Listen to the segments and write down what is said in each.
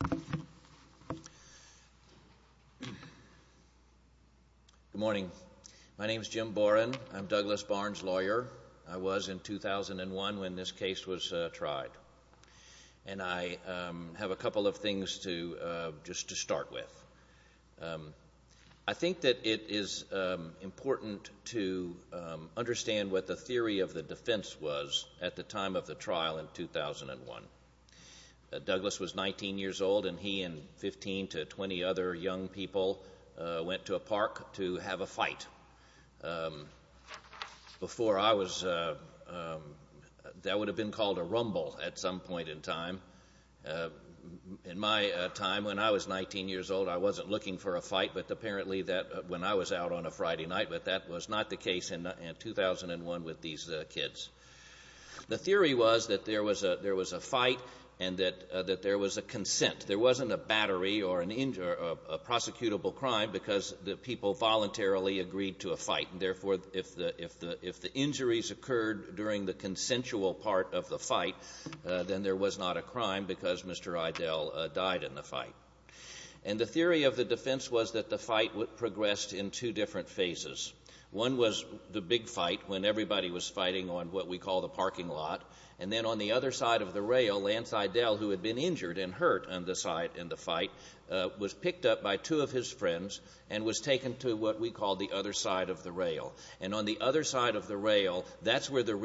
Good morning. My name is Jim Boren. I'm Douglas Barnes' lawyer. I was in 2001 when this case was tried. And I have a couple of things just to start with. I think that it is important to understand what the theory of the defense was at the time of the trial in 2001. Douglas was 19 years old and he and 15 to 20 other young people went to a park to have a fight. That would have been called a rumble at some point in time. In my time, when I was 19 years old, I wasn't looking for a fight. But apparently when I was out on a Friday night, that was not the case in 2001 with these kids. The theory was that there was a fight and that there was a consent. There wasn't a battery or a prosecutable crime because the people voluntarily agreed to a fight. Therefore, if the injuries occurred during the consensual part of the fight, then there was not a crime because Mr. the fight progressed in two different phases. One was the big fight when everybody was fighting on what we call the parking lot. And then on the other side of the rail, Lance Idell, who had been injured and hurt in the fight, was picked up by two of his friends and was taken to what we call the other side of the rail. And on the other side of the rail, that's where the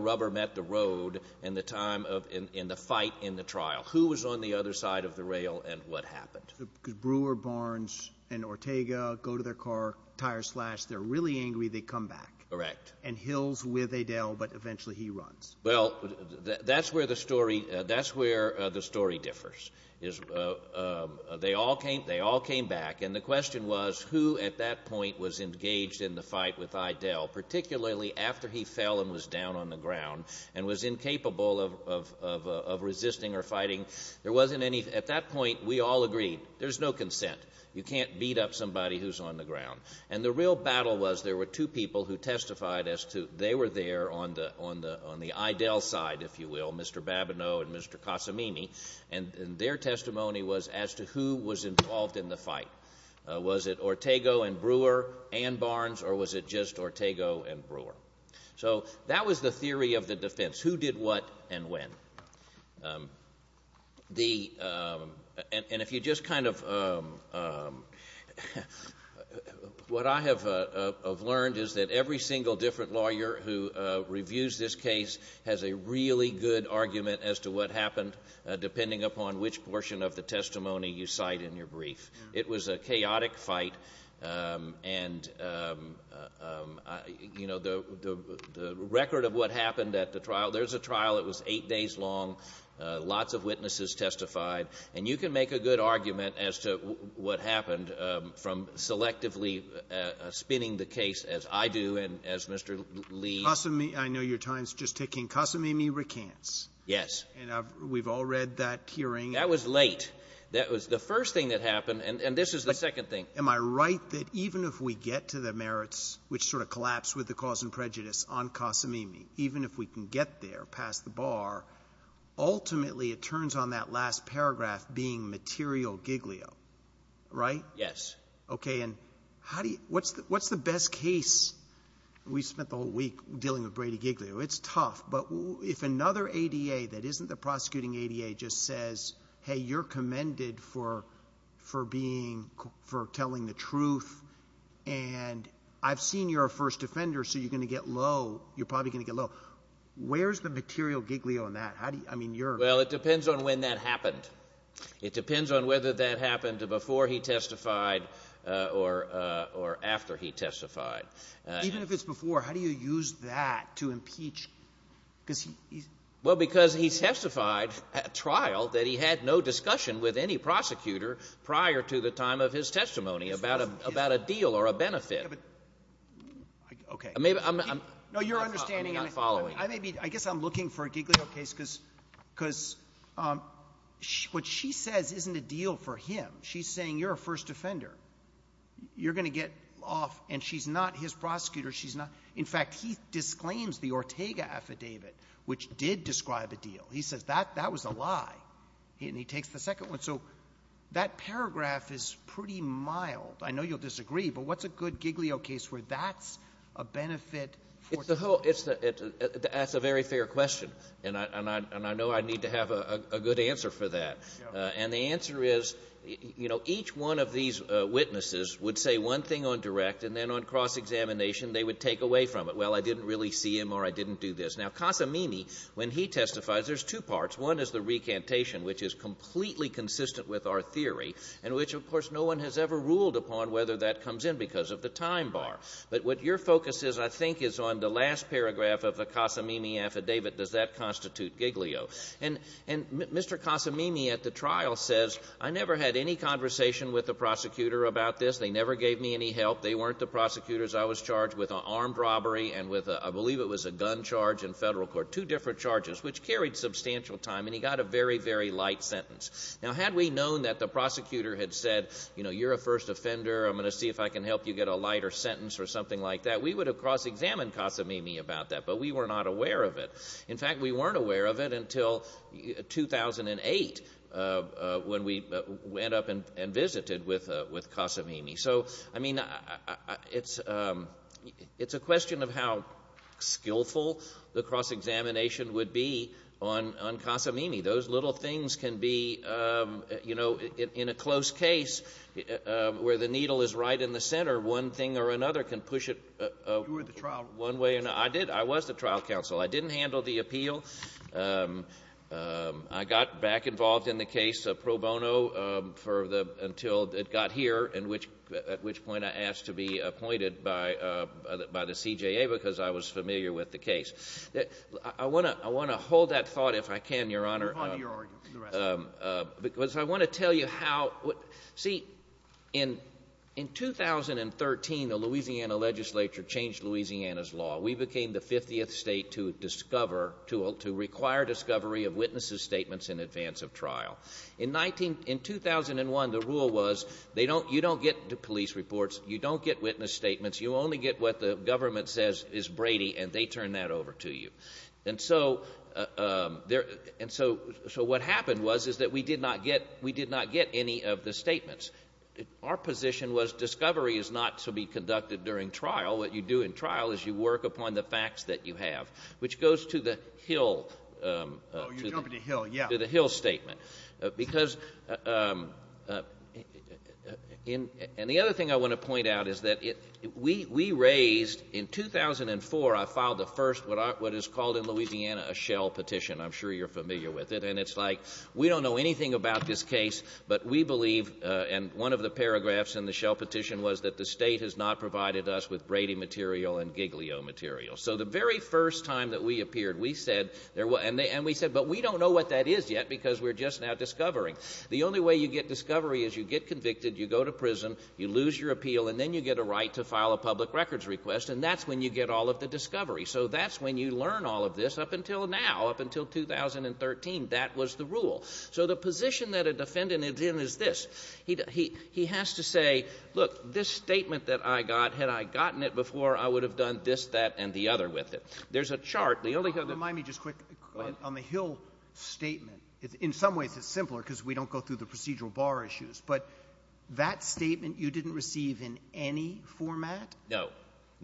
rubber met the road in the fight in the trial. Who was on the other side of the rail and what happened? Because Brewer, Barnes, and Ortega go to their car, tires flash, they're really angry, they come back. Correct. And Hill's with Idell, but eventually he runs. Well, that's where the story differs. They all came back and the question was who at that point was engaged in the fight with Idell, particularly after he fell and was down on the ground and was incapable of resisting or fighting. At that point, we all agreed there's no consent. You can't beat up somebody who's on the ground. And the real battle was there were two people who testified as to they were there on the Idell side, if you will, Mr. Babineau and Mr. Casamini, and their testimony was as to who was involved in the fight. Was it Ortega and Brewer and Barnes or was it just Ortega and Brewer? So that was the theory of the defense, who did what and when. What I have learned is that every single different lawyer who reviews this case has a really good argument as to what happened depending upon which portion of the testimony you cite in your brief. It was a chaotic fight and the record of what happened at the trial, there's a trial that was eight days long, lots of witnesses testified, and you can make a good argument as to what happened from selectively spinning the case as I do and as Mr. Lee. Casamini, I know your time's just ticking. Casamini recants. Yes. And we've all read that hearing. That was late. That was the first thing that happened and this is the second thing. Am I right that even if we get to the merits, which sort of collapse with the cause and prejudice on Casamini, even if we can get there past the bar, ultimately it turns on that last paragraph being material Giglio, right? Yes. Okay. And how do you, what's the best case? We spent the whole week dealing with Brady Giglio. It's tough, but if another ADA that isn't the prosecuting ADA just says, Hey, you're commended for, for being, for telling the truth. And I've seen your first offender. So you're going to get low. You're probably going to get low. Where's the material Giglio on that? How do you, I mean, you're well, it depends on when that happened. It depends on whether that happened to before he testified or, or after he testified. Even if it's before, how do you use that to impeach? Cause he, well, because he testified at trial that he had no discussion with any prosecutor prior to the time of his testimony about a, about a deal or a benefit. Okay. No, you're understanding. I may be, I guess I'm looking for a Giglio case cause, cause what she says isn't a deal for him. She's saying you're a first offender. You're going to get off. And she's not his prosecutor. She's not. In fact, he disclaims the Ortega affidavit, which did describe a deal. He says that, that was a lie. And he takes the second one. So that paragraph is pretty mild. I know you'll disagree, but what's a good Giglio case where that's a benefit. That's a very fair question. And I, and I, and I know I need to have a good answer for that. And the answer is, you know, each one of these witnesses would say one thing on direct and then on cross examination, they would take away from it. Well, I didn't really see him or I didn't do this now. Casa Mimi, when he testifies, there's two parts. One is the recantation, which is completely consistent with our theory and which of course no one has ever ruled upon whether that comes in because of the time bar. But what your focus is, I think is on the last paragraph of Casa Mimi affidavit. Does that constitute Giglio? And, and Mr. Casa Mimi at the trial says, I never had any conversation with the prosecutor about this. They never gave me any help. They weren't the prosecutors. I was charged with an armed robbery and with a, I believe it was a gun charge in federal court, two different charges, which carried substantial time. And he got a very, very light sentence. Now, had we known that the prosecutor had said, you know, you're a first offender. I'm going to see if I can help you get a lighter sentence or something like that. We would have cross-examined Casa Mimi about that, but we were not aware of it. In fact, we weren't aware of it until 2008 when we went up and visited with Casa Mimi. So, I mean, it's a question of how skillful the cross-examination would be on Casa Mimi. Those little things can be, you know, in a close case where the needle is right in the center, one thing or another can push it one way or another. I was the trial counsel. I didn't handle the appeal. I got back involved in the case pro bono until it got here, at which point I asked to be appointed by the CJA because I was familiar with the case. I want to hold that thought if I can. In 2013, the Louisiana legislature changed Louisiana's law. We became the 50th state to discover, to require discovery of witnesses' statements in advance of trial. In 2001, the rule was you don't get police reports. You don't get witness statements. You only get what the government says is Brady, and they turn that over to you. And so what happened was that we did not get any of the statements. Our position was discovery is not to be conducted during trial. What you do in trial is you work upon the facts that you have, which goes to the Hill statement. And the other thing I want to point out is that we raised, in 2004, I filed the first, what is called in Louisiana, a shell petition. I'm sure you're familiar with it. And it's like, we don't know anything about this case, but we believe, and one of the paragraphs in the shell petition was that the state has not provided us with Brady material and Giglio material. So the very first time that we appeared, we said, but we don't know what that is yet because we're just now discovering. The only way you get discovery is you get convicted, you go to prison, you lose your appeal, and then you get a right to file a public records request, and that's when you get all of the discovery. So that's when you learn all of this up until now, up until 2013. That was the position that a defendant is in is this. He has to say, look, this statement that I got, had I gotten it before, I would have done this, that, and the other with it. There's a chart, the only thing... Remind me just quick on the Hill statement. In some ways, it's simpler because we don't go through the procedural bar issues, but that statement, you didn't receive in any format? No.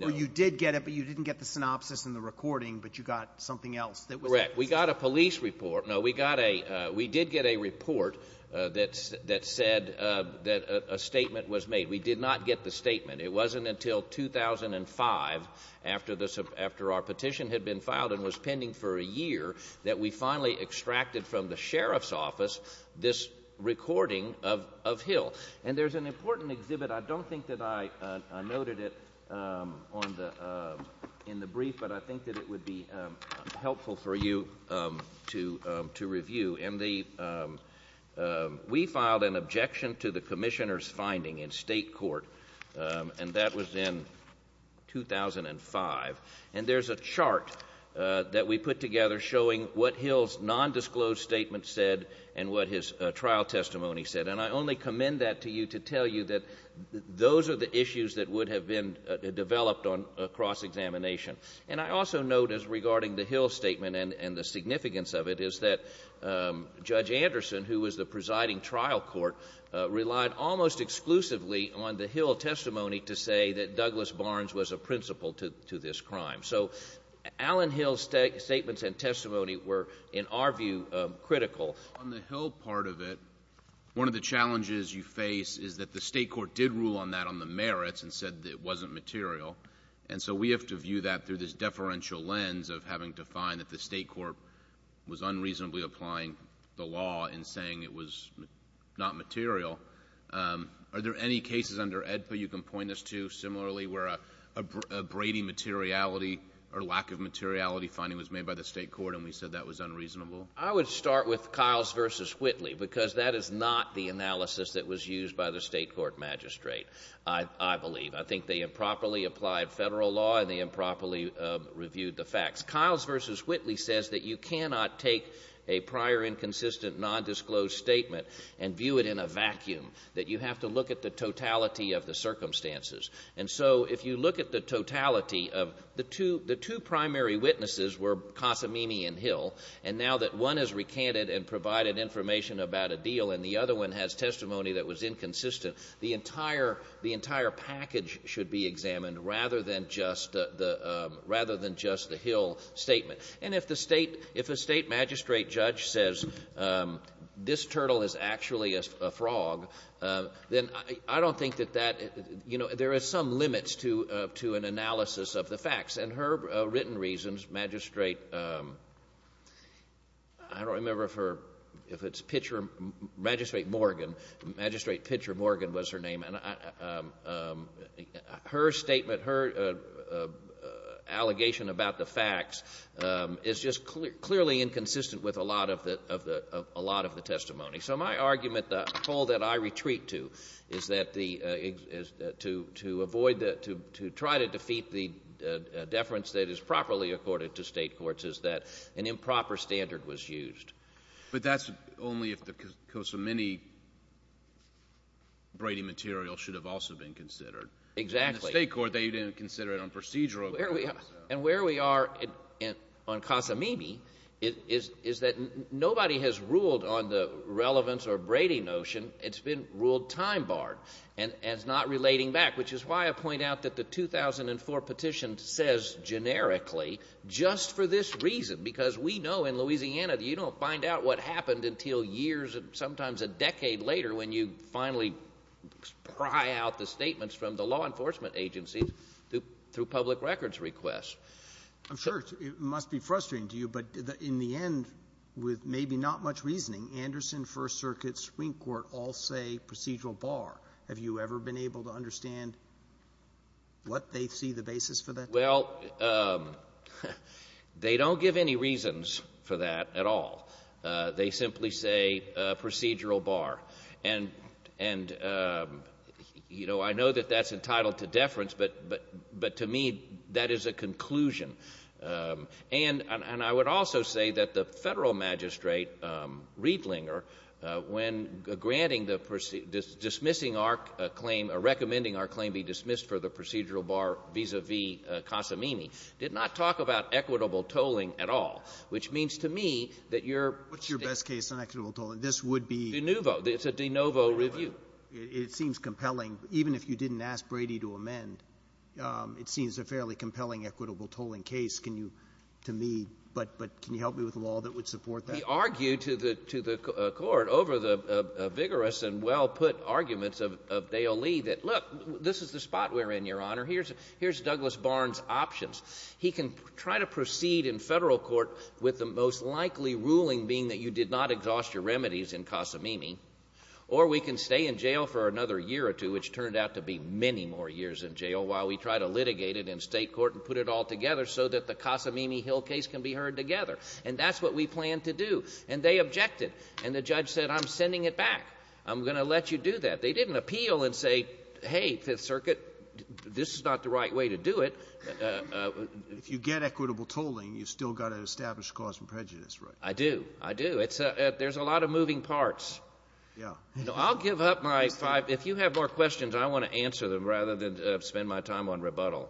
Or you did get it, but you didn't get the synopsis and the recording, but you got something else. Correct. We got a police report. No, we did get a report that said that a statement was made. We did not get the statement. It wasn't until 2005, after our petition had been filed and was pending for a year, that we finally extracted from the sheriff's office this recording of Hill. And there's an important exhibit. I don't think that I noted it in the brief, but I think that would be helpful for you to review. We filed an objection to the commissioner's finding in state court, and that was in 2005. And there's a chart that we put together showing what Hill's nondisclosed statement said and what his trial testimony said. And I only commend that to you to tell you that those are the issues that would have been developed on a cross-examination. And I also note, as regarding the Hill statement and the significance of it, is that Judge Anderson, who was the presiding trial court, relied almost exclusively on the Hill testimony to say that Douglas Barnes was a principal to this crime. So Allen Hill's statements and testimony were, in our view, critical. On the Hill part of it, one of the challenges you face is that the state court did rule on that on the merits and said that it wasn't material. And so we have to view that through this deferential lens of having to find that the state court was unreasonably applying the law in saying it was not material. Are there any cases under AEDPA you can point us to similarly where a Brady materiality or lack of materiality finding was made by the state court and we said that was unreasonable? I would start with Kyles versus Whitley because that is not the analysis that was used by the state court magistrate, I believe. I think they improperly applied federal law and they improperly reviewed the facts. Kyles versus Whitley says that you cannot take a prior inconsistent nondisclosed statement and view it in a vacuum, that you have to look at the totality of the circumstances. And so if you look at the totality of the two primary witnesses were Cosimini and Hill, and now that one has recanted and provided information about a deal and the other one has testimony that was inconsistent, the entire package should be rather than just the Hill statement. And if a state magistrate judge says this turtle is actually a frog, then I don't think that that, you know, there is some limits to an analysis of the facts. And her written reasons, magistrate, I don't remember if it's Pitcher, Magistrate Morgan, Magistrate Pitcher Morgan was her name. Her statement, her allegation about the facts is just clearly inconsistent with a lot of the testimony. So my argument, the call that I retreat to, is that the to avoid the, to try to defeat the deference that is properly accorded to state courts is that an improper standard was used. But that's only if the Cosimini Brady material should have also been considered. Exactly. In the state court, they didn't consider it on procedural grounds. And where we are on Cosimini is that nobody has ruled on the relevance or Brady notion. It's been ruled time barred and it's not relating back, which is why I point out that the 2004 petition says generically, just for this reason, because we know in Louisiana, you don't find out what happened until years and sometimes a decade later when you finally pry out the statements from the law enforcement agencies through public records requests. I'm sure it must be frustrating to you, but in the end, with maybe not much reasoning, Anderson, First Circuit, Supreme Court all say procedural bar. Have you ever been able to understand what they see the basis for that? Well, they don't give any reasons for that at all. They simply say procedural bar. And, you know, I know that that's entitled to deference, but to me, that is a conclusion. And I would also say that the federal magistrate, Riedlinger, when granting the dismissing claim or recommending our claim be dismissed for the procedural bar vis-a-vis Cosimini, did not talk about equitable tolling at all, which means to me that your — What's your best case on equitable tolling? This would be — De novo. It's a de novo review. It seems compelling. Even if you didn't ask Brady to amend, it seems a fairly compelling equitable tolling case, can you — to me. But can you help me with a law that would support that? We argue to the court over the vigorous and well-put arguments of Dale Lee that, look, this is the spot we're in, Your Honor. Here's Douglas Barnes' options. He can try to proceed in federal court with the most likely ruling being that you did not exhaust your remedies in Cosimini, or we can stay in jail for another year or two, which turned out to be many more years in jail, while we try to litigate it in state court and put it all together so that the Cosimini-Hill case can be heard together. And that's what we plan to do. And they objected. And the judge said, I'm sending it back. I'm going to let you do that. They didn't appeal and say, hey, Fifth Circuit, this is not the right way to do it. If you get equitable tolling, you've still got to establish cause and prejudice, right? I do. I do. It's — there's a lot of moving parts. Yeah. I'll give up my five — if you have more questions, I want to answer them rather than spend my time on rebuttal.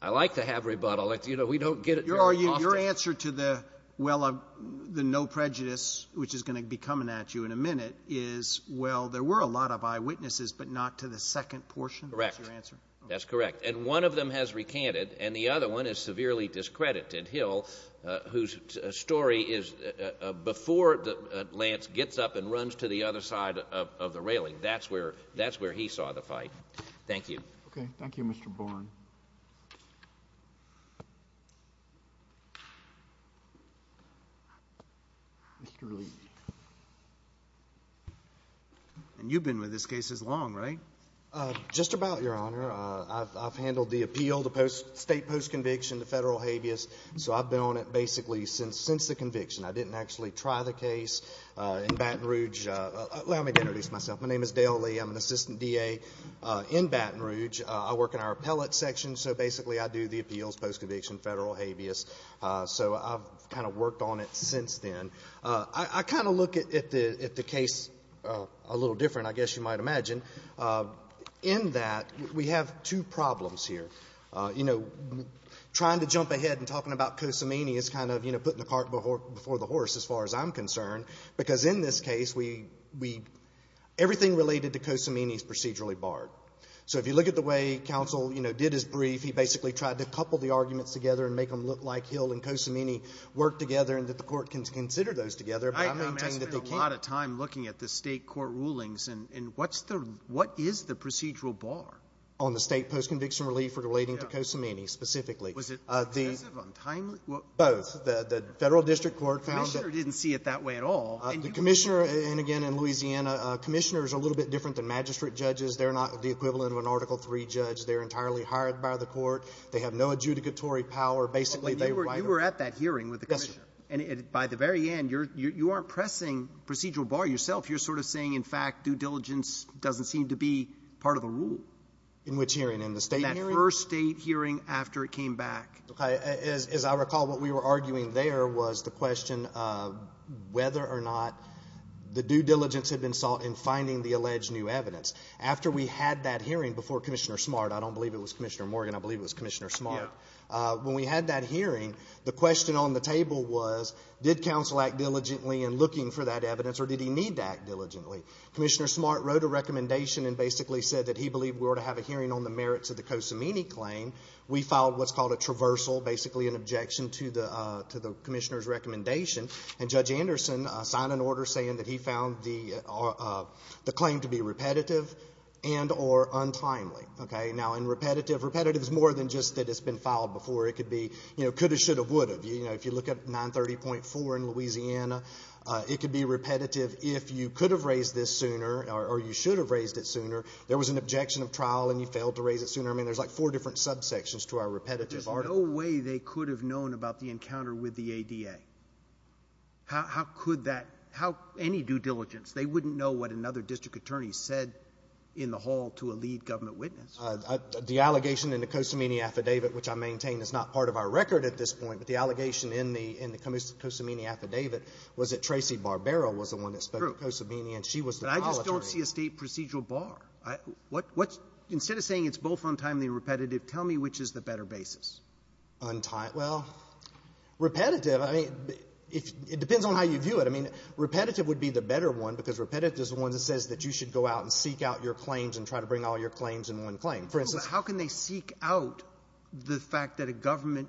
I like to have rebuttal. You know, we don't get — Your answer to the — well, the no prejudice, which is going to be coming at you in a minute, is, well, there were a lot of eyewitnesses, but not to the second portion? Correct. That's your answer? That's correct. And one of them has recanted, and the other one is severely discredited. Hill, whose story is — before Lance gets up and runs to the other side of the railing, that's where — that's where he saw the fight. Thank you. Okay. Thank you, Mr. Bourne. Mr. Lee. And you've been with this case as long, right? Just about, Your Honor. I've handled the appeal, the post — state post-conviction, the federal habeas, so I've been on it basically since the conviction. I didn't actually try the case in Baton Rouge — allow me to introduce myself. My name is Dale Lee. I'm an assistant DA in Baton Rouge. I work in our appellate section, so basically I do the appeals, post-conviction, federal habeas. So I've kind of worked on it since then. I kind of look at the case a little different, I guess you might imagine, in that we have two problems here. You know, trying to jump ahead and talking about Kosamini is kind of, you know, putting the cart before the horse, as far as I'm concerned, because in this case, we — everything related to Kosamini is procedurally barred. So if you look at the way counsel, you know, did his brief, he basically tried to couple the arguments together and make them look like he'll and Kosamini work together and that the court can consider those together. But I maintain that they can't. I spent a lot of time looking at the state court rulings, and what's the — what is the procedural bar? On the state post-conviction relief relating to Kosamini specifically. Was it excessive on time? Both. The federal district court found that — The commissioner didn't see it that way at all. The commissioner — and again, in Louisiana, commissioners are a little bit different than magistrate judges. They're not the equivalent of an Article III judge. They're entirely hired by the court. They have no adjudicatory power. Basically, they write — You were at that hearing with the commissioner. Yes, sir. And by the very end, you're — you aren't pressing procedural bar yourself. You're sort of saying, in fact, due diligence doesn't seem to be part of the rule. In which hearing? In the state hearing? In that first state hearing after it came back. As I recall, what we were arguing there was the question whether or not the due diligence had been sought in finding the alleged new evidence. After we had that hearing before Commissioner Smart — I don't believe it was Commissioner Morgan. I believe it was Commissioner Smart. When we had that hearing, the question on the table was, did counsel act diligently in looking for that evidence, or did he need to act diligently? have a hearing on the merits of the Cosimini claim, we filed what's called a traversal, basically an objection to the commissioner's recommendation. And Judge Anderson signed an order saying that he found the claim to be repetitive and or untimely. Now, in repetitive, repetitive is more than just that it's been filed before. It could be could have, should have, would have. If you look at 930.4 in Louisiana, it could be repetitive if you could have raised this sooner or you should have raised it sooner. There was an objection of trial, and you failed to raise it sooner. I mean, there's like four different subsections to our repetitive article. But there's no way they could have known about the encounter with the ADA. How could that — how any due diligence? They wouldn't know what another district attorney said in the hall to a lead government witness. The allegation in the Cosimini affidavit, which I maintain is not part of our record at this point, but the allegation in the — in the Cosimini affidavit was that Tracey Barbera was the one that spoke to Cosimini, and she was the — I just don't see a State procedural bar. What's — instead of saying it's both untimely and repetitive, tell me which is the better basis. Well, repetitive, I mean, it depends on how you view it. I mean, repetitive would be the better one, because repetitive is the one that says that you should go out and seek out your claims and try to bring all your claims in one claim. For instance — How can they seek out the fact that a government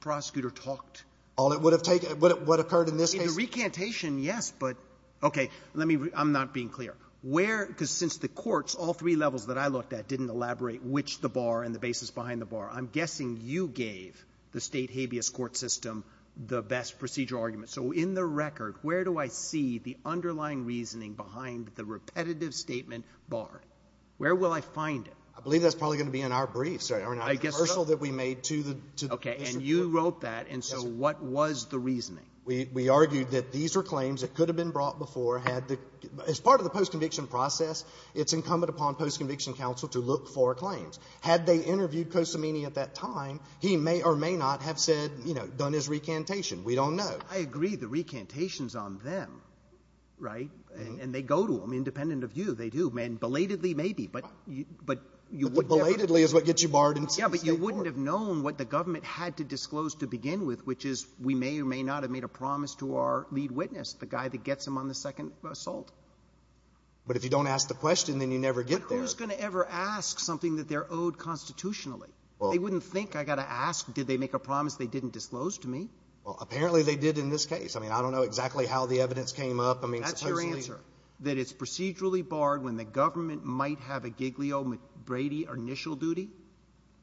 prosecutor talked? All it would have taken — what occurred in this case — The recantation, yes, but — okay. Let me — I'm not being clear. Where — because since the courts, all three levels that I looked at, didn't elaborate which the bar and the basis behind the bar. I'm guessing you gave the State habeas court system the best procedural argument. So in the record, where do I see the underlying reasoning behind the repetitive statement barred? Where will I find it? I believe that's probably going to be in our brief. Sorry. I guess so. The commercial that we made to the district court. Okay. And you wrote that. And so what was the reasoning? We argued that these are claims that could have been brought before, had the — as part of the post-conviction process, it's incumbent upon post-conviction counsel to look for claims. Had they interviewed Cosimini at that time, he may or may not have said, you know, done his recantation. We don't know. I agree. The recantation's on them, right? And they go to them, independent of you. They do. And belatedly, maybe. But you would never — Belatedly is what gets you barred in State court. Yeah. But you wouldn't have known what the government had to disclose to begin with, which is, we may or may not have made a promise to our lead witness, the guy that gets him on the second assault. But if you don't ask the question, then you never get there. But who's going to ever ask something that they're owed constitutionally? Well — They wouldn't think I got to ask, did they make a promise they didn't disclose to me. Well, apparently, they did in this case. I mean, I don't know exactly how the evidence came up. I mean, supposedly — That's your answer, that it's procedurally barred when the government might have a Giglio-McBrady initial duty.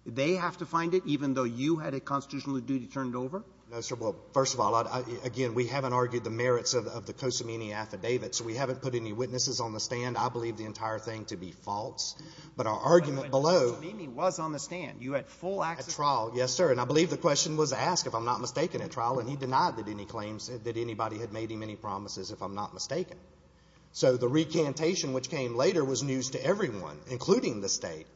They have to find it, even though you had a constitutional duty turned over? No, sir. Well, first of all, again, we haven't argued the merits of the Cosimini affidavit. So we haven't put any witnesses on the stand. I believe the entire thing to be false. But our argument below — But Cosimini was on the stand. You had full access — At trial, yes, sir. And I believe the question was asked, if I'm not mistaken, at trial. And he denied that any claims that anybody had made him any promises, if I'm not mistaken. So the recantation, which came later, was news to everyone, including the State.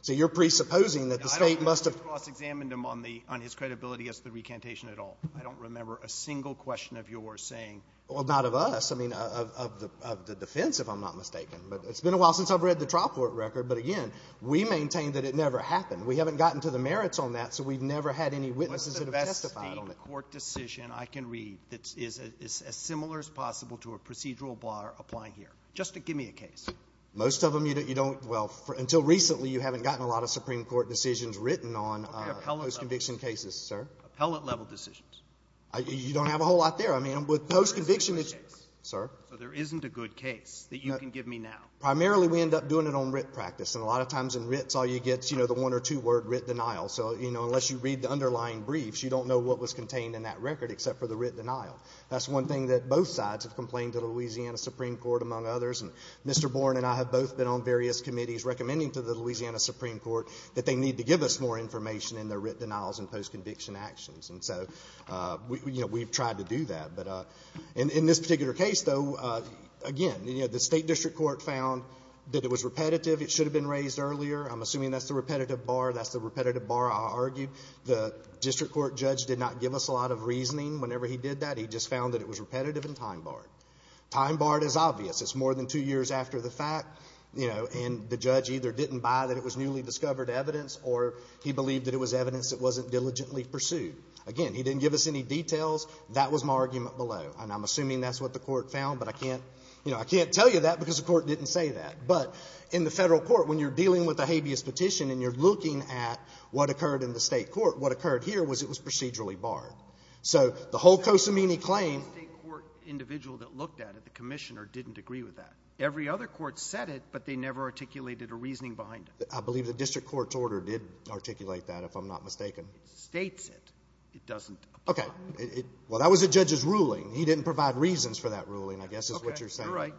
So you're presupposing that the State must have — on the — on his credibility as the recantation at all. I don't remember a single question of yours saying — Well, not of us. I mean, of the defense, if I'm not mistaken. But it's been a while since I've read the trial court record. But again, we maintain that it never happened. We haven't gotten to the merits on that, so we've never had any witnesses that have testified on it. What's the best Supreme Court decision I can read that is as similar as possible to a procedural bar applying here, just to give me a case? Most of them, you don't — well, until recently, you haven't gotten a lot of Supreme Court decisions written on — What about the appellate level? Post-conviction cases, sir. Appellate-level decisions. You don't have a whole lot there. I mean, with post-conviction — So there isn't a good case? Sir? So there isn't a good case that you can give me now? Primarily, we end up doing it on writ practice. And a lot of times, in writs, all you get is, you know, the one or two word, writ denial. So, you know, unless you read the underlying briefs, you don't know what was contained in that record except for the writ denial. That's one thing that both sides have complained to the Louisiana Supreme Court, among others. And Mr. Bourne and I have both been on various committees recommending to the Louisiana Supreme Court that they need to give us more information in their writ denials and post-conviction actions. And so, you know, we've tried to do that. But in this particular case, though, again, you know, the State District Court found that it was repetitive. It should have been raised earlier. I'm assuming that's the repetitive bar. That's the repetitive bar, I argue. The District Court judge did not give us a lot of reasoning whenever he did that. He just found that it was repetitive and time-barred. Time-barred is obvious. It's more than two years after the fact, you know, and the judge either didn't buy that it was newly discovered evidence or he believed that it was evidence that wasn't diligently pursued. Again, he didn't give us any details. That was my argument below. And I'm assuming that's what the Court found, but I can't, you know, I can't tell you that because the Court didn't say that. But in the Federal court, when you're dealing with a habeas petition and you're looking at what occurred in the State court, what occurred here was it was procedurally barred. So the whole Cosimini claim… Roberts. The State court individual that looked at it, the Commissioner, didn't agree with that. Every other court said it, but they never articulated a reasoning behind it. I believe the district court's order did articulate that, if I'm not mistaken. It states it. It doesn't apply. Okay. Well, that was the judge's ruling. He didn't provide reasons for that ruling, I guess, is what you're saying. Okay. You're right.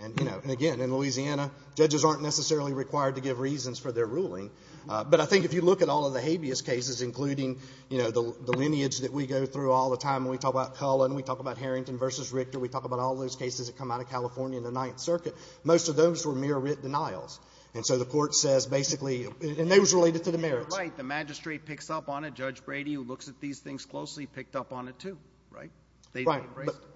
And, you know, again, in Louisiana, judges aren't necessarily required to give reasons for their ruling. But I think if you look at all of the habeas cases, including, you know, the lineage that we go through all the time, we talk about Cullen, we talk about Harrington v. Richter, we talk about all those cases that come out of California in the Ninth Circuit, most of those were mere writ denials. And so the Court says basically… and they was related to the merits. You're right. The magistrate picks up on it. Judge Brady, who looks at these things closely, picked up on it, too. Right? Right.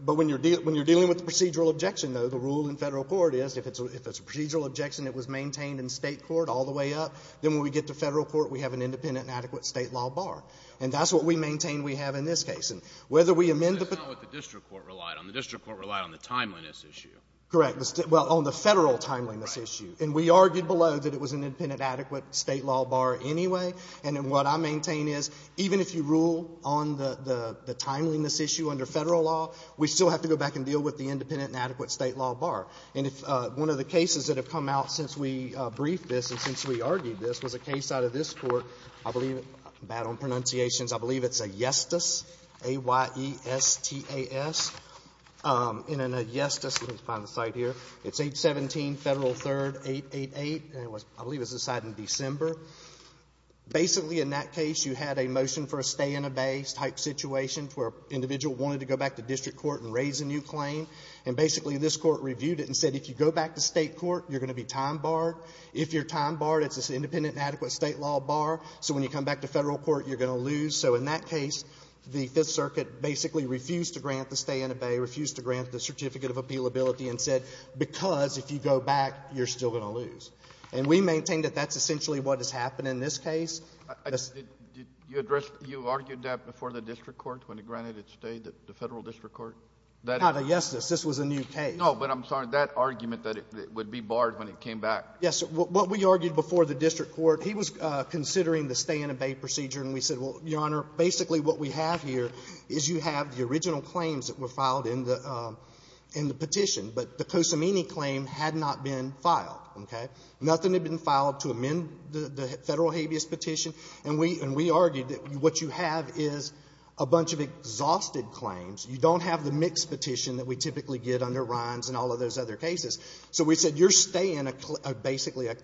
But when you're dealing with the procedural objection, though, the rule in Federal court is, if it's a procedural objection that was maintained in State court all the way up, then when we get to Federal court, we have an independent and adequate State law bar. And that's what we maintain we have in this case. And whether we amend it or not… But that's not what the District Court relied on. The District Court relied on the timeliness issue. Correct. Well, on the Federal timeliness issue. Right. And we argued below that it was an independent and adequate State law bar anyway. And then what I maintain is, even if you rule on the timeliness issue under Federal law, we still have to go back and deal with the independent and adequate State law bar. And if one of the cases that have come out since we briefed this and since we argued this was a case out of this Court, I believe, bad on pronunciations, I believe it's Ayestas, A-y-e-s-t-a-s. And in Ayestas, let me find the site here, it's 817 Federal 3rd, 888, and I believe it was decided in December. Basically, in that case, you had a motion for a stay-in-a-bay type situation where an individual wanted to go back to District court and raise a new claim. And basically, this Court reviewed it and said if you go back to State court, you're going to be time barred. If you're time barred, it's an independent and adequate State law bar, so when you come back to Federal court, you're going to lose. So in that case, the Fifth Circuit basically refused to grant the stay-in-a-bay, refused to grant the Certificate of Appealability, and said because if you go back, you're still going to lose. And we maintain that that's essentially what has happened in this case. Kennedy. Did you address the argued that before the District court when it granted its stay, the Federal District court? That is not Ayestas. This was a new case. Kennedy. No, but I'm sorry. That argument that it would be barred when it came back. Yes. What we argued before the District court, he was considering the stay-in-a-bay procedure, and we said, well, Your Honor, basically what we have here is you have the original claims that were filed in the petition, but the Cosimini claim had not been filed, okay? Nothing had been filed to amend the Federal habeas petition, and we argued that what you have is a bunch of exhausted claims. You don't have the mixed petition that we typically get under Rhines and all of those other cases. So we said, you're staying basically a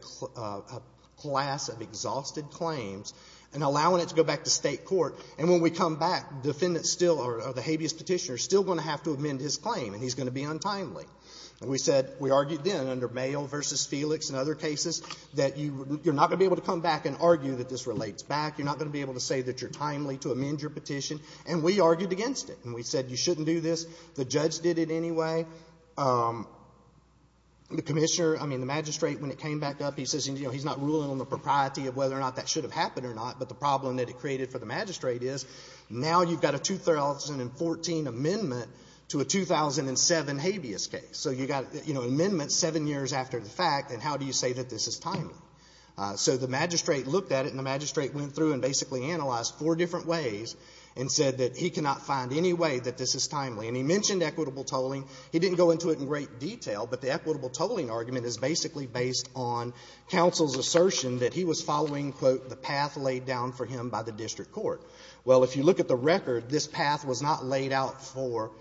class of exhausted claims and allowing it to go back to State court. And when we come back, the defendant still or the habeas petitioner is still going to have to amend his claim, and he's going to be untimely. And we said, we argued then under Mayo v. Felix and other cases that you're not going to be able to come back and argue that this relates back. You're not going to be able to say that you're timely to amend your petition. And we argued against it. And we said, you shouldn't do this. The judge did it anyway. The magistrate, when it came back up, he says he's not ruling on the propriety of whether or not that should have happened or not, but the problem that it created for the magistrate is now you've got a 2014 amendment to a 2007 habeas case. So you've got amendments seven years after the fact, and how do you say that this is timely? So the magistrate looked at it, and the magistrate went through and basically analyzed four different ways and said that he cannot find any way that this is timely. And he mentioned equitable tolling. He didn't go into it in great detail, but the equitable tolling argument is basically based on counsel's assertion that he was following, quote, the path laid down for him by the district court. Well, if you look at the record, this path was not laid out for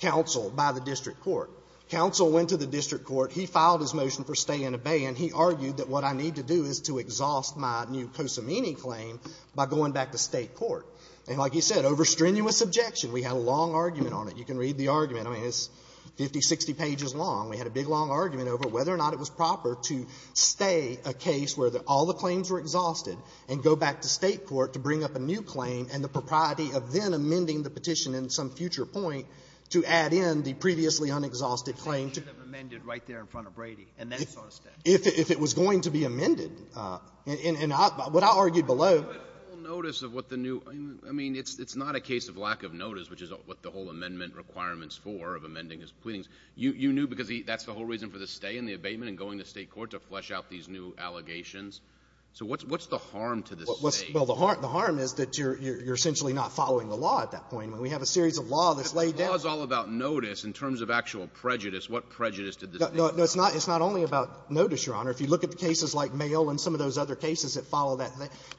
counsel by the district court. Counsel went to the district court. He filed his motion for stay and obey, and he argued that what I need to do is to exhaust my new Cosimini claim by going back to State court. And like you said, over strenuous objection, we had a long argument on it. You can read the argument. I mean, it's 50, 60 pages long. We had a big, long argument over whether or not it was proper to stay a case where all the claims were exhausted and go back to State court to bring up a new claim and the propriety of then amending the petition in some future point to add in the previously unexhausted claim to the court. And what I argued below — But full notice of what the new — I mean, it's not a case of lack of notice, which is what the whole amendment requirement's for, of amending his pleadings. You knew because that's the whole reason for the stay and the abatement and going to State court, to flesh out these new allegations. So what's the harm to the State? Well, the harm is that you're essentially not following the law at that point. We have a series of law that's laid down. But the law is all about notice in terms of actual prejudice. What prejudice did the State do? No, it's not only about notice, Your Honor. If you look at the cases like Mayo and some of those other cases that follow that,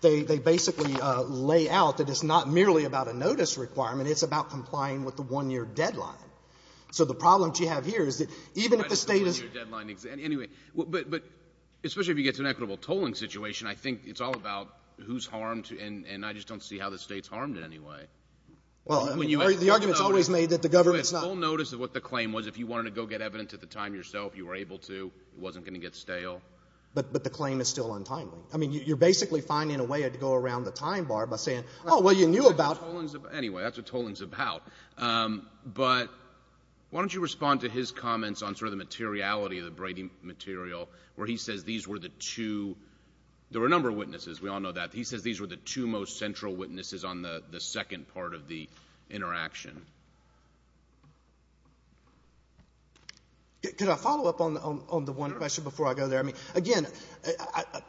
they basically lay out that it's not merely about a notice requirement. It's about complying with the one-year deadline. So the problem that you have here is that even if the State is — Even if it's a one-year deadline. Anyway, but especially if you get to an equitable tolling situation, I think it's all about who's harmed, and I just don't see how the State's harmed in any way. Well, I mean, the argument is always made that the government's not — You had full notice of what the claim was. If you wanted to go get evidence at the time yourself, you were able to. It wasn't going to get stale. But the claim is still untimely. I mean, you're basically finding a way to go around the time bar by saying, oh, well, you knew about — Anyway, that's what tolling's about. But why don't you respond to his comments on sort of the materiality of the Brady material where he says these were the two — there were a number of witnesses. We all know that. He says these were the two most central witnesses on the second part of the interaction. Could I follow up on the one question before I go there? I mean, again,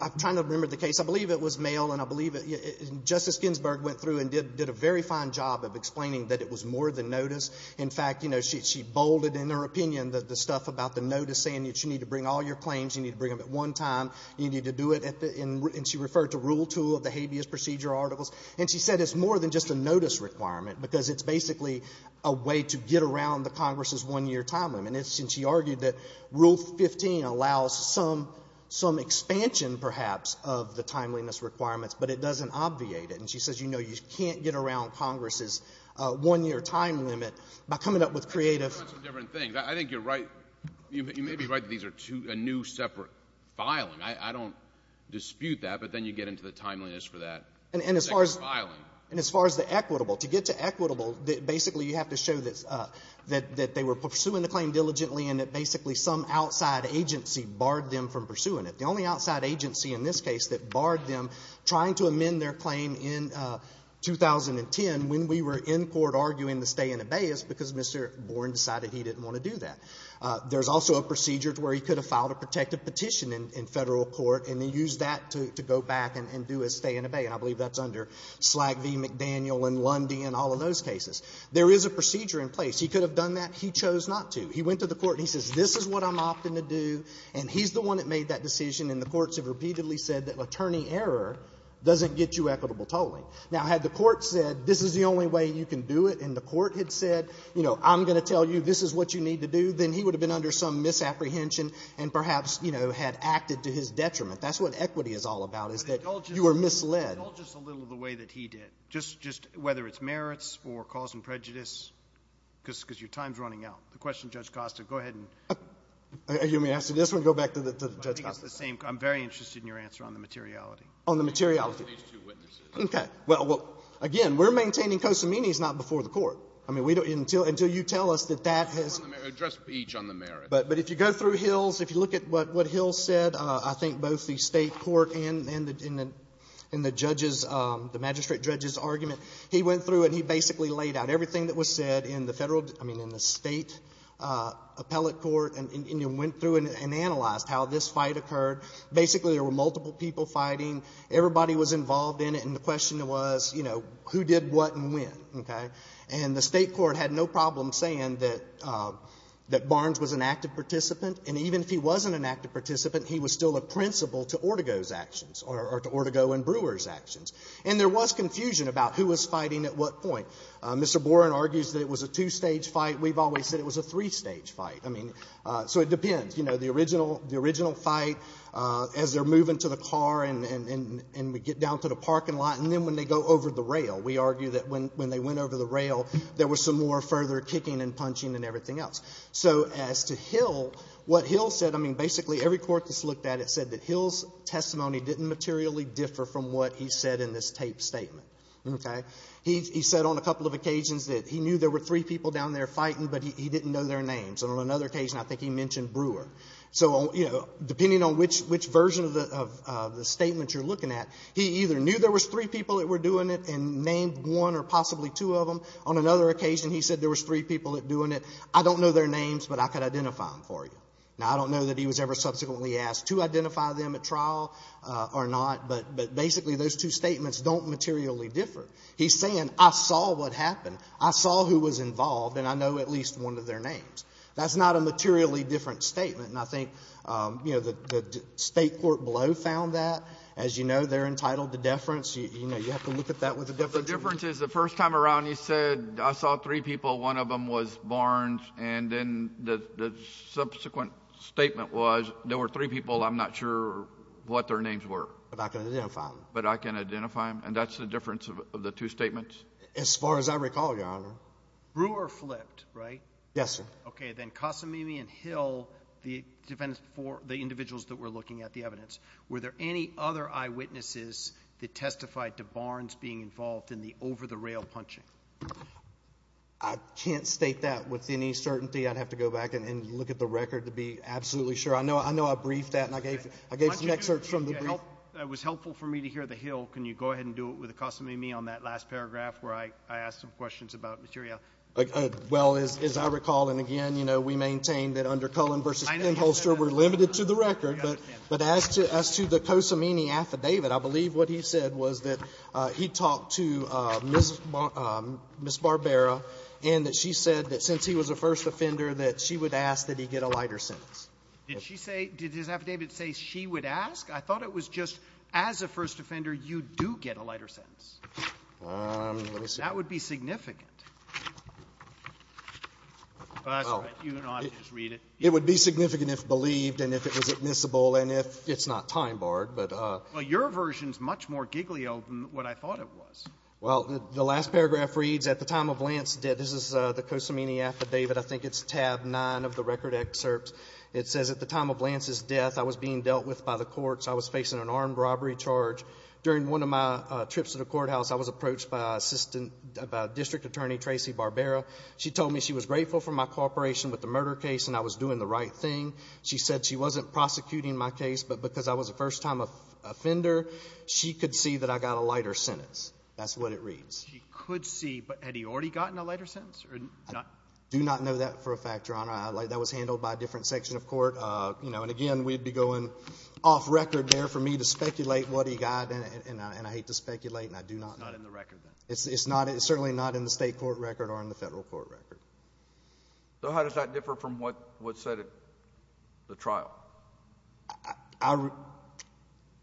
I'm trying to remember the case. I believe it was mail, and I believe it — Justice Ginsburg went through and did a very fine job of explaining that it was more than notice. In fact, you know, she bolded in her opinion the stuff about the notice, saying that you need to bring all your claims, you need to bring them at one time, you need to do it at the — and she referred to rule two of the habeas procedure articles. And she said it's more than just a notice requirement, because it's basically a way to get around the Congress's one-year time limit. And she argued that rule 15 allows some expansion, perhaps, of the timeliness requirements, but it doesn't obviate it. And she says, you know, you can't get around Congress's one-year time limit by coming up with creative — That's a different thing. I think you're right — you may be right that these are two — a new separate filing. I don't dispute that. But then you get into the timeliness for that second filing. And as far as the equitable, to get to equitable, basically you have to show that they were pursuing the claim diligently and that basically some outside agency barred them from pursuing it. The only outside agency in this case that barred them trying to amend their claim in 2010 when we were in court arguing the stay in habeas because Mr. Boren decided he didn't want to do that. There's also a procedure where he could have filed a protective petition in Federal court and then used that to go back and do a stay in habeas. And I believe that's under Slag v. McDaniel and Lundy and all of those cases. There is a procedure in place. He could have done that. He chose not to. He went to the court and he says, this is what I'm opting to do. And he's the one that made that decision. And the courts have repeatedly said that attorney error doesn't get you equitable tolling. Now, had the court said, this is the only way you can do it, and the court had said, you know, I'm going to tell you this is what you need to do, then he would have been under some misapprehension and perhaps, you know, had acted to his detriment. That's what equity is all about, is that you are misled. Just a little of the way that he did, just whether it's merits or cause and prejudice, because your time is running out. The question, Judge Costa, go ahead. You want me to answer this one or go back to Judge Costa? I think it's the same. I'm very interested in your answer on the materiality. On the materiality. On these two witnesses. Okay. Well, again, we're maintaining Cosimini is not before the court. I mean, until you tell us that that has — Address each on the merits. But if you go through Hills, if you look at what Hills said, I think both the state court and the judges, the magistrate judge's argument, he went through and he basically laid out everything that was said in the federal, I mean, in the state appellate court and went through and analyzed how this fight occurred. Basically, there were multiple people fighting. Everybody was involved in it, and the question was, you know, who did what and when, okay? And the state court had no problem saying that Barnes was an active participant. And even if he wasn't an active participant, he was still a principal to Ortego's actions or to Ortego and Brewer's actions. And there was confusion about who was fighting at what point. Mr. Boren argues that it was a two-stage fight. We've always said it was a three-stage fight. I mean, so it depends. You know, the original fight, as they're moving to the car and we get down to the parking lot, and then when they go over the rail, we argue that when they went over the rail, there was some more further kicking and punching and everything else. So as to Hill, what Hill said, I mean, basically every court that's looked at it said that Hill's testimony didn't materially differ from what he said in this taped statement, okay? He said on a couple of occasions that he knew there were three people down there fighting, but he didn't know their names. And on another occasion, I think he mentioned Brewer. So, you know, depending on which version of the statement you're looking at, he either knew there was three people that were doing it and named one or possibly two of them. On another occasion, he said there was three people that were doing it. I don't know their names, but I could identify them for you. Now, I don't know that he was ever subsequently asked to identify them at trial or not, but basically those two statements don't materially differ. He's saying I saw what happened. I saw who was involved, and I know at least one of their names. That's not a materially different statement. And I think, you know, the State Court below found that. As you know, they're entitled to deference. You know, you have to look at that with a different view. The difference is the first time around, he said I saw three people. One of them was Barnes. And then the subsequent statement was there were three people. I'm not sure what their names were. But I can identify them. But I can identify them. And that's the difference of the two statements. As far as I recall, Your Honor. Brewer flipped, right? Yes, sir. Then Casamimi and Hill, the defendants before the individuals that were looking at the evidence, were there any other eyewitnesses that testified to Barnes being involved in the over-the-rail punching? I can't state that with any certainty. I'd have to go back and look at the record to be absolutely sure. I know I briefed that, and I gave some excerpts from the brief. It was helpful for me to hear the Hill. Can you go ahead and do it with Casamimi on that last paragraph where I asked some questions about materiality? Well, as I recall, and again, you know, we maintain that under Cullen v. Stenholster, we're limited to the record. But as to the Casamimi affidavit, I believe what he said was that he talked to Ms. Barbera, and that she said that since he was a first offender, that she would ask that he get a lighter sentence. Did she say, did his affidavit say she would ask? I thought it was just, as a first offender, you do get a lighter sentence. Let me see. That would be significant. That's right. You don't have to just read it. It would be significant if believed and if it was admissible and if it's not time barred. Well, your version is much more giggly open than what I thought it was. Well, the last paragraph reads, at the time of Lance's death. This is the Casamimi affidavit. I think it's tab 9 of the record excerpt. It says, at the time of Lance's death, I was being dealt with by the courts. I was facing an armed robbery charge. During one of my trips to the courthouse, I was approached by a district attorney, Tracy Barbera. She told me she was grateful for my cooperation with the murder case and I was doing the right thing. She said she wasn't prosecuting my case, but because I was a first-time offender, she could see that I got a lighter sentence. That's what it reads. She could see, but had he already gotten a lighter sentence? I do not know that for a fact, Your Honor. That was handled by a different section of court. And, again, we'd be going off record there for me to speculate what he got, and I hate to speculate, and I do not know. It's not in the record, then? It's certainly not in the state court record or in the federal court record. So how does that differ from what's said at the trial?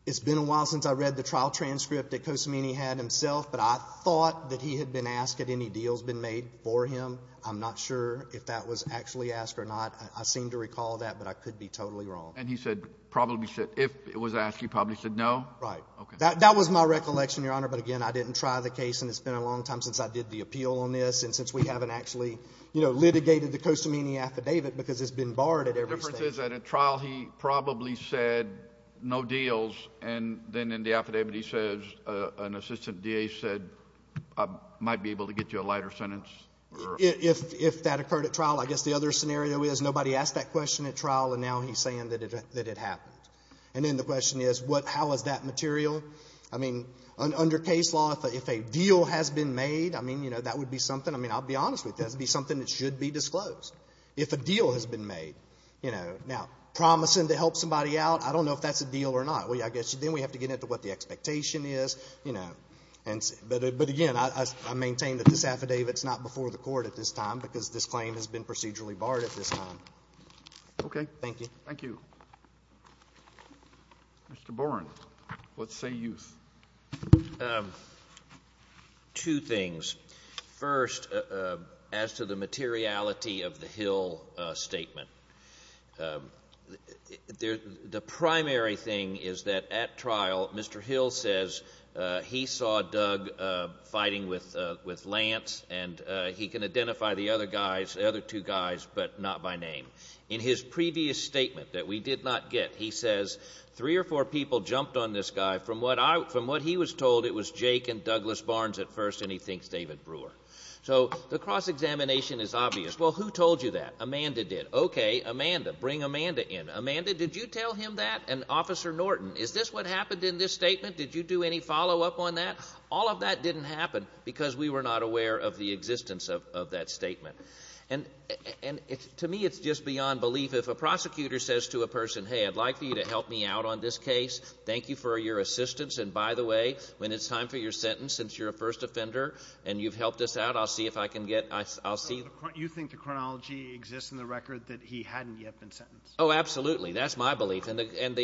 It's been a while since I read the trial transcript that Cosimini had himself, but I thought that he had been asked if any deals had been made for him. I'm not sure if that was actually asked or not. I seem to recall that, but I could be totally wrong. And he said, probably said, if it was asked, he probably said no? Right. That was my recollection, Your Honor. But, again, I didn't try the case, and it's been a long time since I did the appeal on this and since we haven't actually, you know, litigated the Cosimini affidavit because it's been barred at every state. The difference is that at trial he probably said no deals, and then in the affidavit he says an assistant DA said I might be able to get you a lighter sentence? If that occurred at trial, I guess the other scenario is nobody asked that question at trial, and now he's saying that it happened. And then the question is how is that material? I mean, under case law, if a deal has been made, I mean, you know, that would be something. I mean, I'll be honest with you, that would be something that should be disclosed if a deal has been made, you know. Now, promising to help somebody out, I don't know if that's a deal or not. I guess then we have to get into what the expectation is, you know. But, again, I maintain that this affidavit's not before the Court at this time because this claim has been procedurally barred at this time. Thank you. Thank you. Mr. Boren, what say you? Two things. First, as to the materiality of the Hill statement, the primary thing is that at trial, Mr. Hill says he saw Doug fighting with Lance, and he can identify the other guys, the other two guys, but not by name. In his previous statement that we did not get, he says three or four people jumped on this guy. From what he was told, it was Jake and Douglas Barnes at first, and he thinks David Brewer. So the cross-examination is obvious. Well, who told you that? Amanda did. Okay, Amanda. Bring Amanda in. Amanda, did you tell him that? And Officer Norton, is this what happened in this statement? Did you do any follow-up on that? All of that didn't happen because we were not aware of the existence of that statement. And to me it's just beyond belief. If a prosecutor says to a person, hey, I'd like for you to help me out on this case, thank you for your assistance, and by the way, when it's time for your sentence, since you're a first offender and you've helped us out, I'll see if I can get, I'll see. You think the chronology exists in the record that he hadn't yet been sentenced? Oh, absolutely. That's my belief. And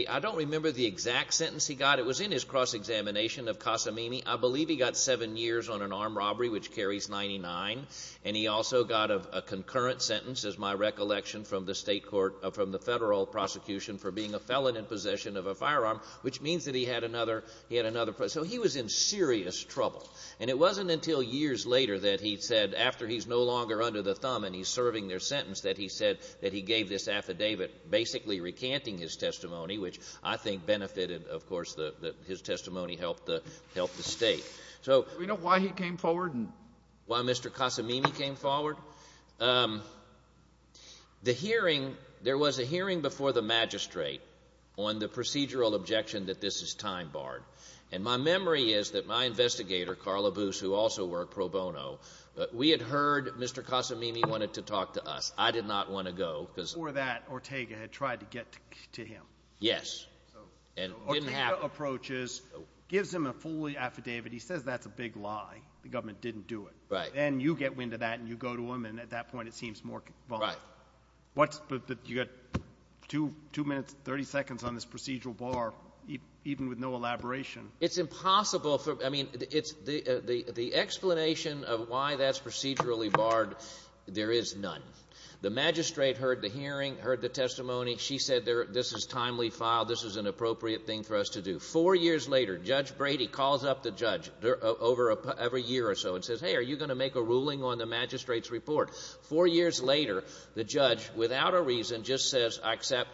I don't remember the exact sentence he got. It was in his cross-examination of Casamimi. I believe he got seven years on an armed robbery, which carries 99, and he also got a concurrent sentence, as my recollection from the state court, from the federal prosecution for being a felon in possession of a firearm, which means that he had another, he had another. So he was in serious trouble. And it wasn't until years later that he said, after he's no longer under the thumb and he's serving their sentence, that he said that he gave this affidavit, basically recanting his testimony, which I think benefited, of course, that his testimony helped the state. Do we know why he came forward? Why Mr. Casamimi came forward? The hearing, there was a hearing before the magistrate on the procedural objection that this is time-barred. And my memory is that my investigator, Carla Boos, who also worked pro bono, we had heard Mr. Casamimi wanted to talk to us. I did not want to go. Before that, Ortega had tried to get to him. Yes. And it didn't happen. Ortega approaches, gives him a fully affidavit. He says that's a big lie. The government didn't do it. Right. Then you get wind of that and you go to him, and at that point it seems more convoluted. Right. You've got two minutes, 30 seconds on this procedural bar, even with no elaboration. It's impossible. I mean, the explanation of why that's procedurally barred, there is none. The magistrate heard the hearing, heard the testimony. She said this is timely file. This is an appropriate thing for us to do. Four years later, Judge Brady calls up the judge every year or so and says, hey, are you going to make a ruling on the magistrate's report? Four years later, the judge, without a reason, just says I accept.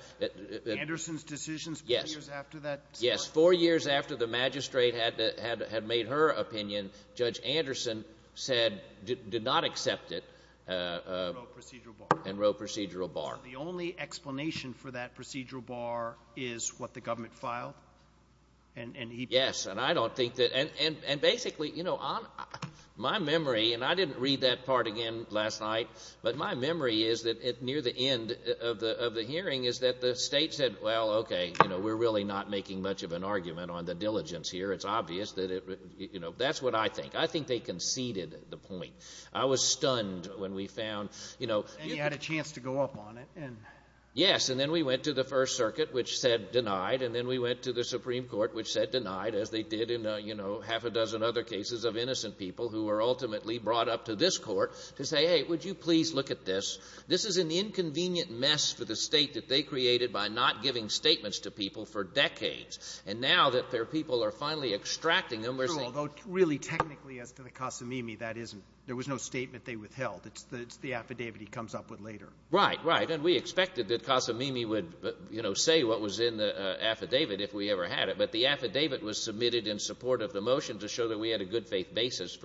Anderson's decisions four years after that? Yes. Four years after the magistrate had made her opinion, Judge Anderson said, did not accept it and wrote procedural bar. The only explanation for that procedural bar is what the government filed? Yes, and I don't think that and basically, you know, my memory, and I didn't read that part again last night, but my memory is that near the end of the hearing is that the state said, well, okay, you know, we're really not making much of an argument on the diligence here. It's obvious that it, you know, that's what I think. I think they conceded the point. I was stunned when we found, you know. And you had a chance to go up on it. Yes, and then we went to the First Circuit, which said denied, and then we went to the Supreme Court, which said denied, as they did in, you know, half a dozen other cases of innocent people who were ultimately brought up to this court to say, hey, would you please look at this? This is an inconvenient mess for the state that they created by not giving statements to people for decades, and now that their people are finally extracting them, they're saying. Although really technically as to the Casamimi, that isn't. There was no statement they withheld. It's the affidavit he comes up with later. Right, right, and we expected that Casamimi would, you know, say what was in the affidavit if we ever had it, but the affidavit was submitted in support of the motion to show that we had a good faith basis.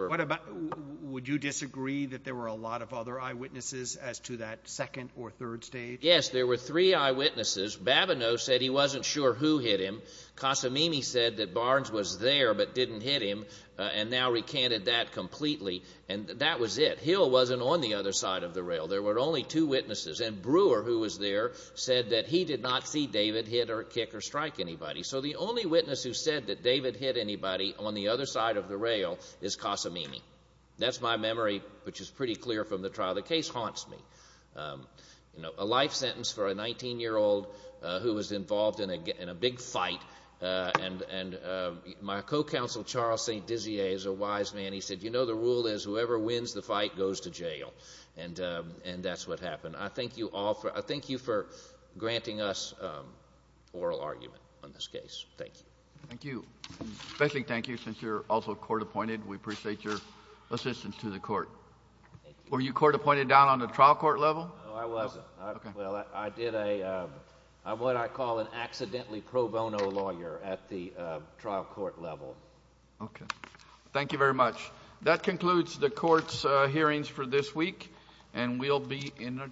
Would you disagree that there were a lot of other eyewitnesses as to that second or third stage? Yes, there were three eyewitnesses. Babineau said he wasn't sure who hit him. Casamimi said that Barnes was there but didn't hit him, and now recanted that completely, and that was it. Hill wasn't on the other side of the rail. There were only two witnesses, and Brewer, who was there, said that he did not see David hit or kick or strike anybody. So the only witness who said that David hit anybody on the other side of the rail is Casamimi. That's my memory, which is pretty clear from the trial. The case haunts me. A life sentence for a 19-year-old who was involved in a big fight, and my co-counsel Charles St. Dizier is a wise man. He said, you know, the rule is whoever wins the fight goes to jail, and that's what happened. I thank you all. I thank you for granting us oral argument on this case. Thank you. Thank you. A special thank you since you're also court-appointed. We appreciate your assistance to the court. Thank you. Were you court-appointed down on the trial court level? No, I wasn't. Well, I did what I call an accidentally pro bono lawyer at the trial court level. Okay. Thank you very much. That concludes the court's hearings for this week, and we'll be in a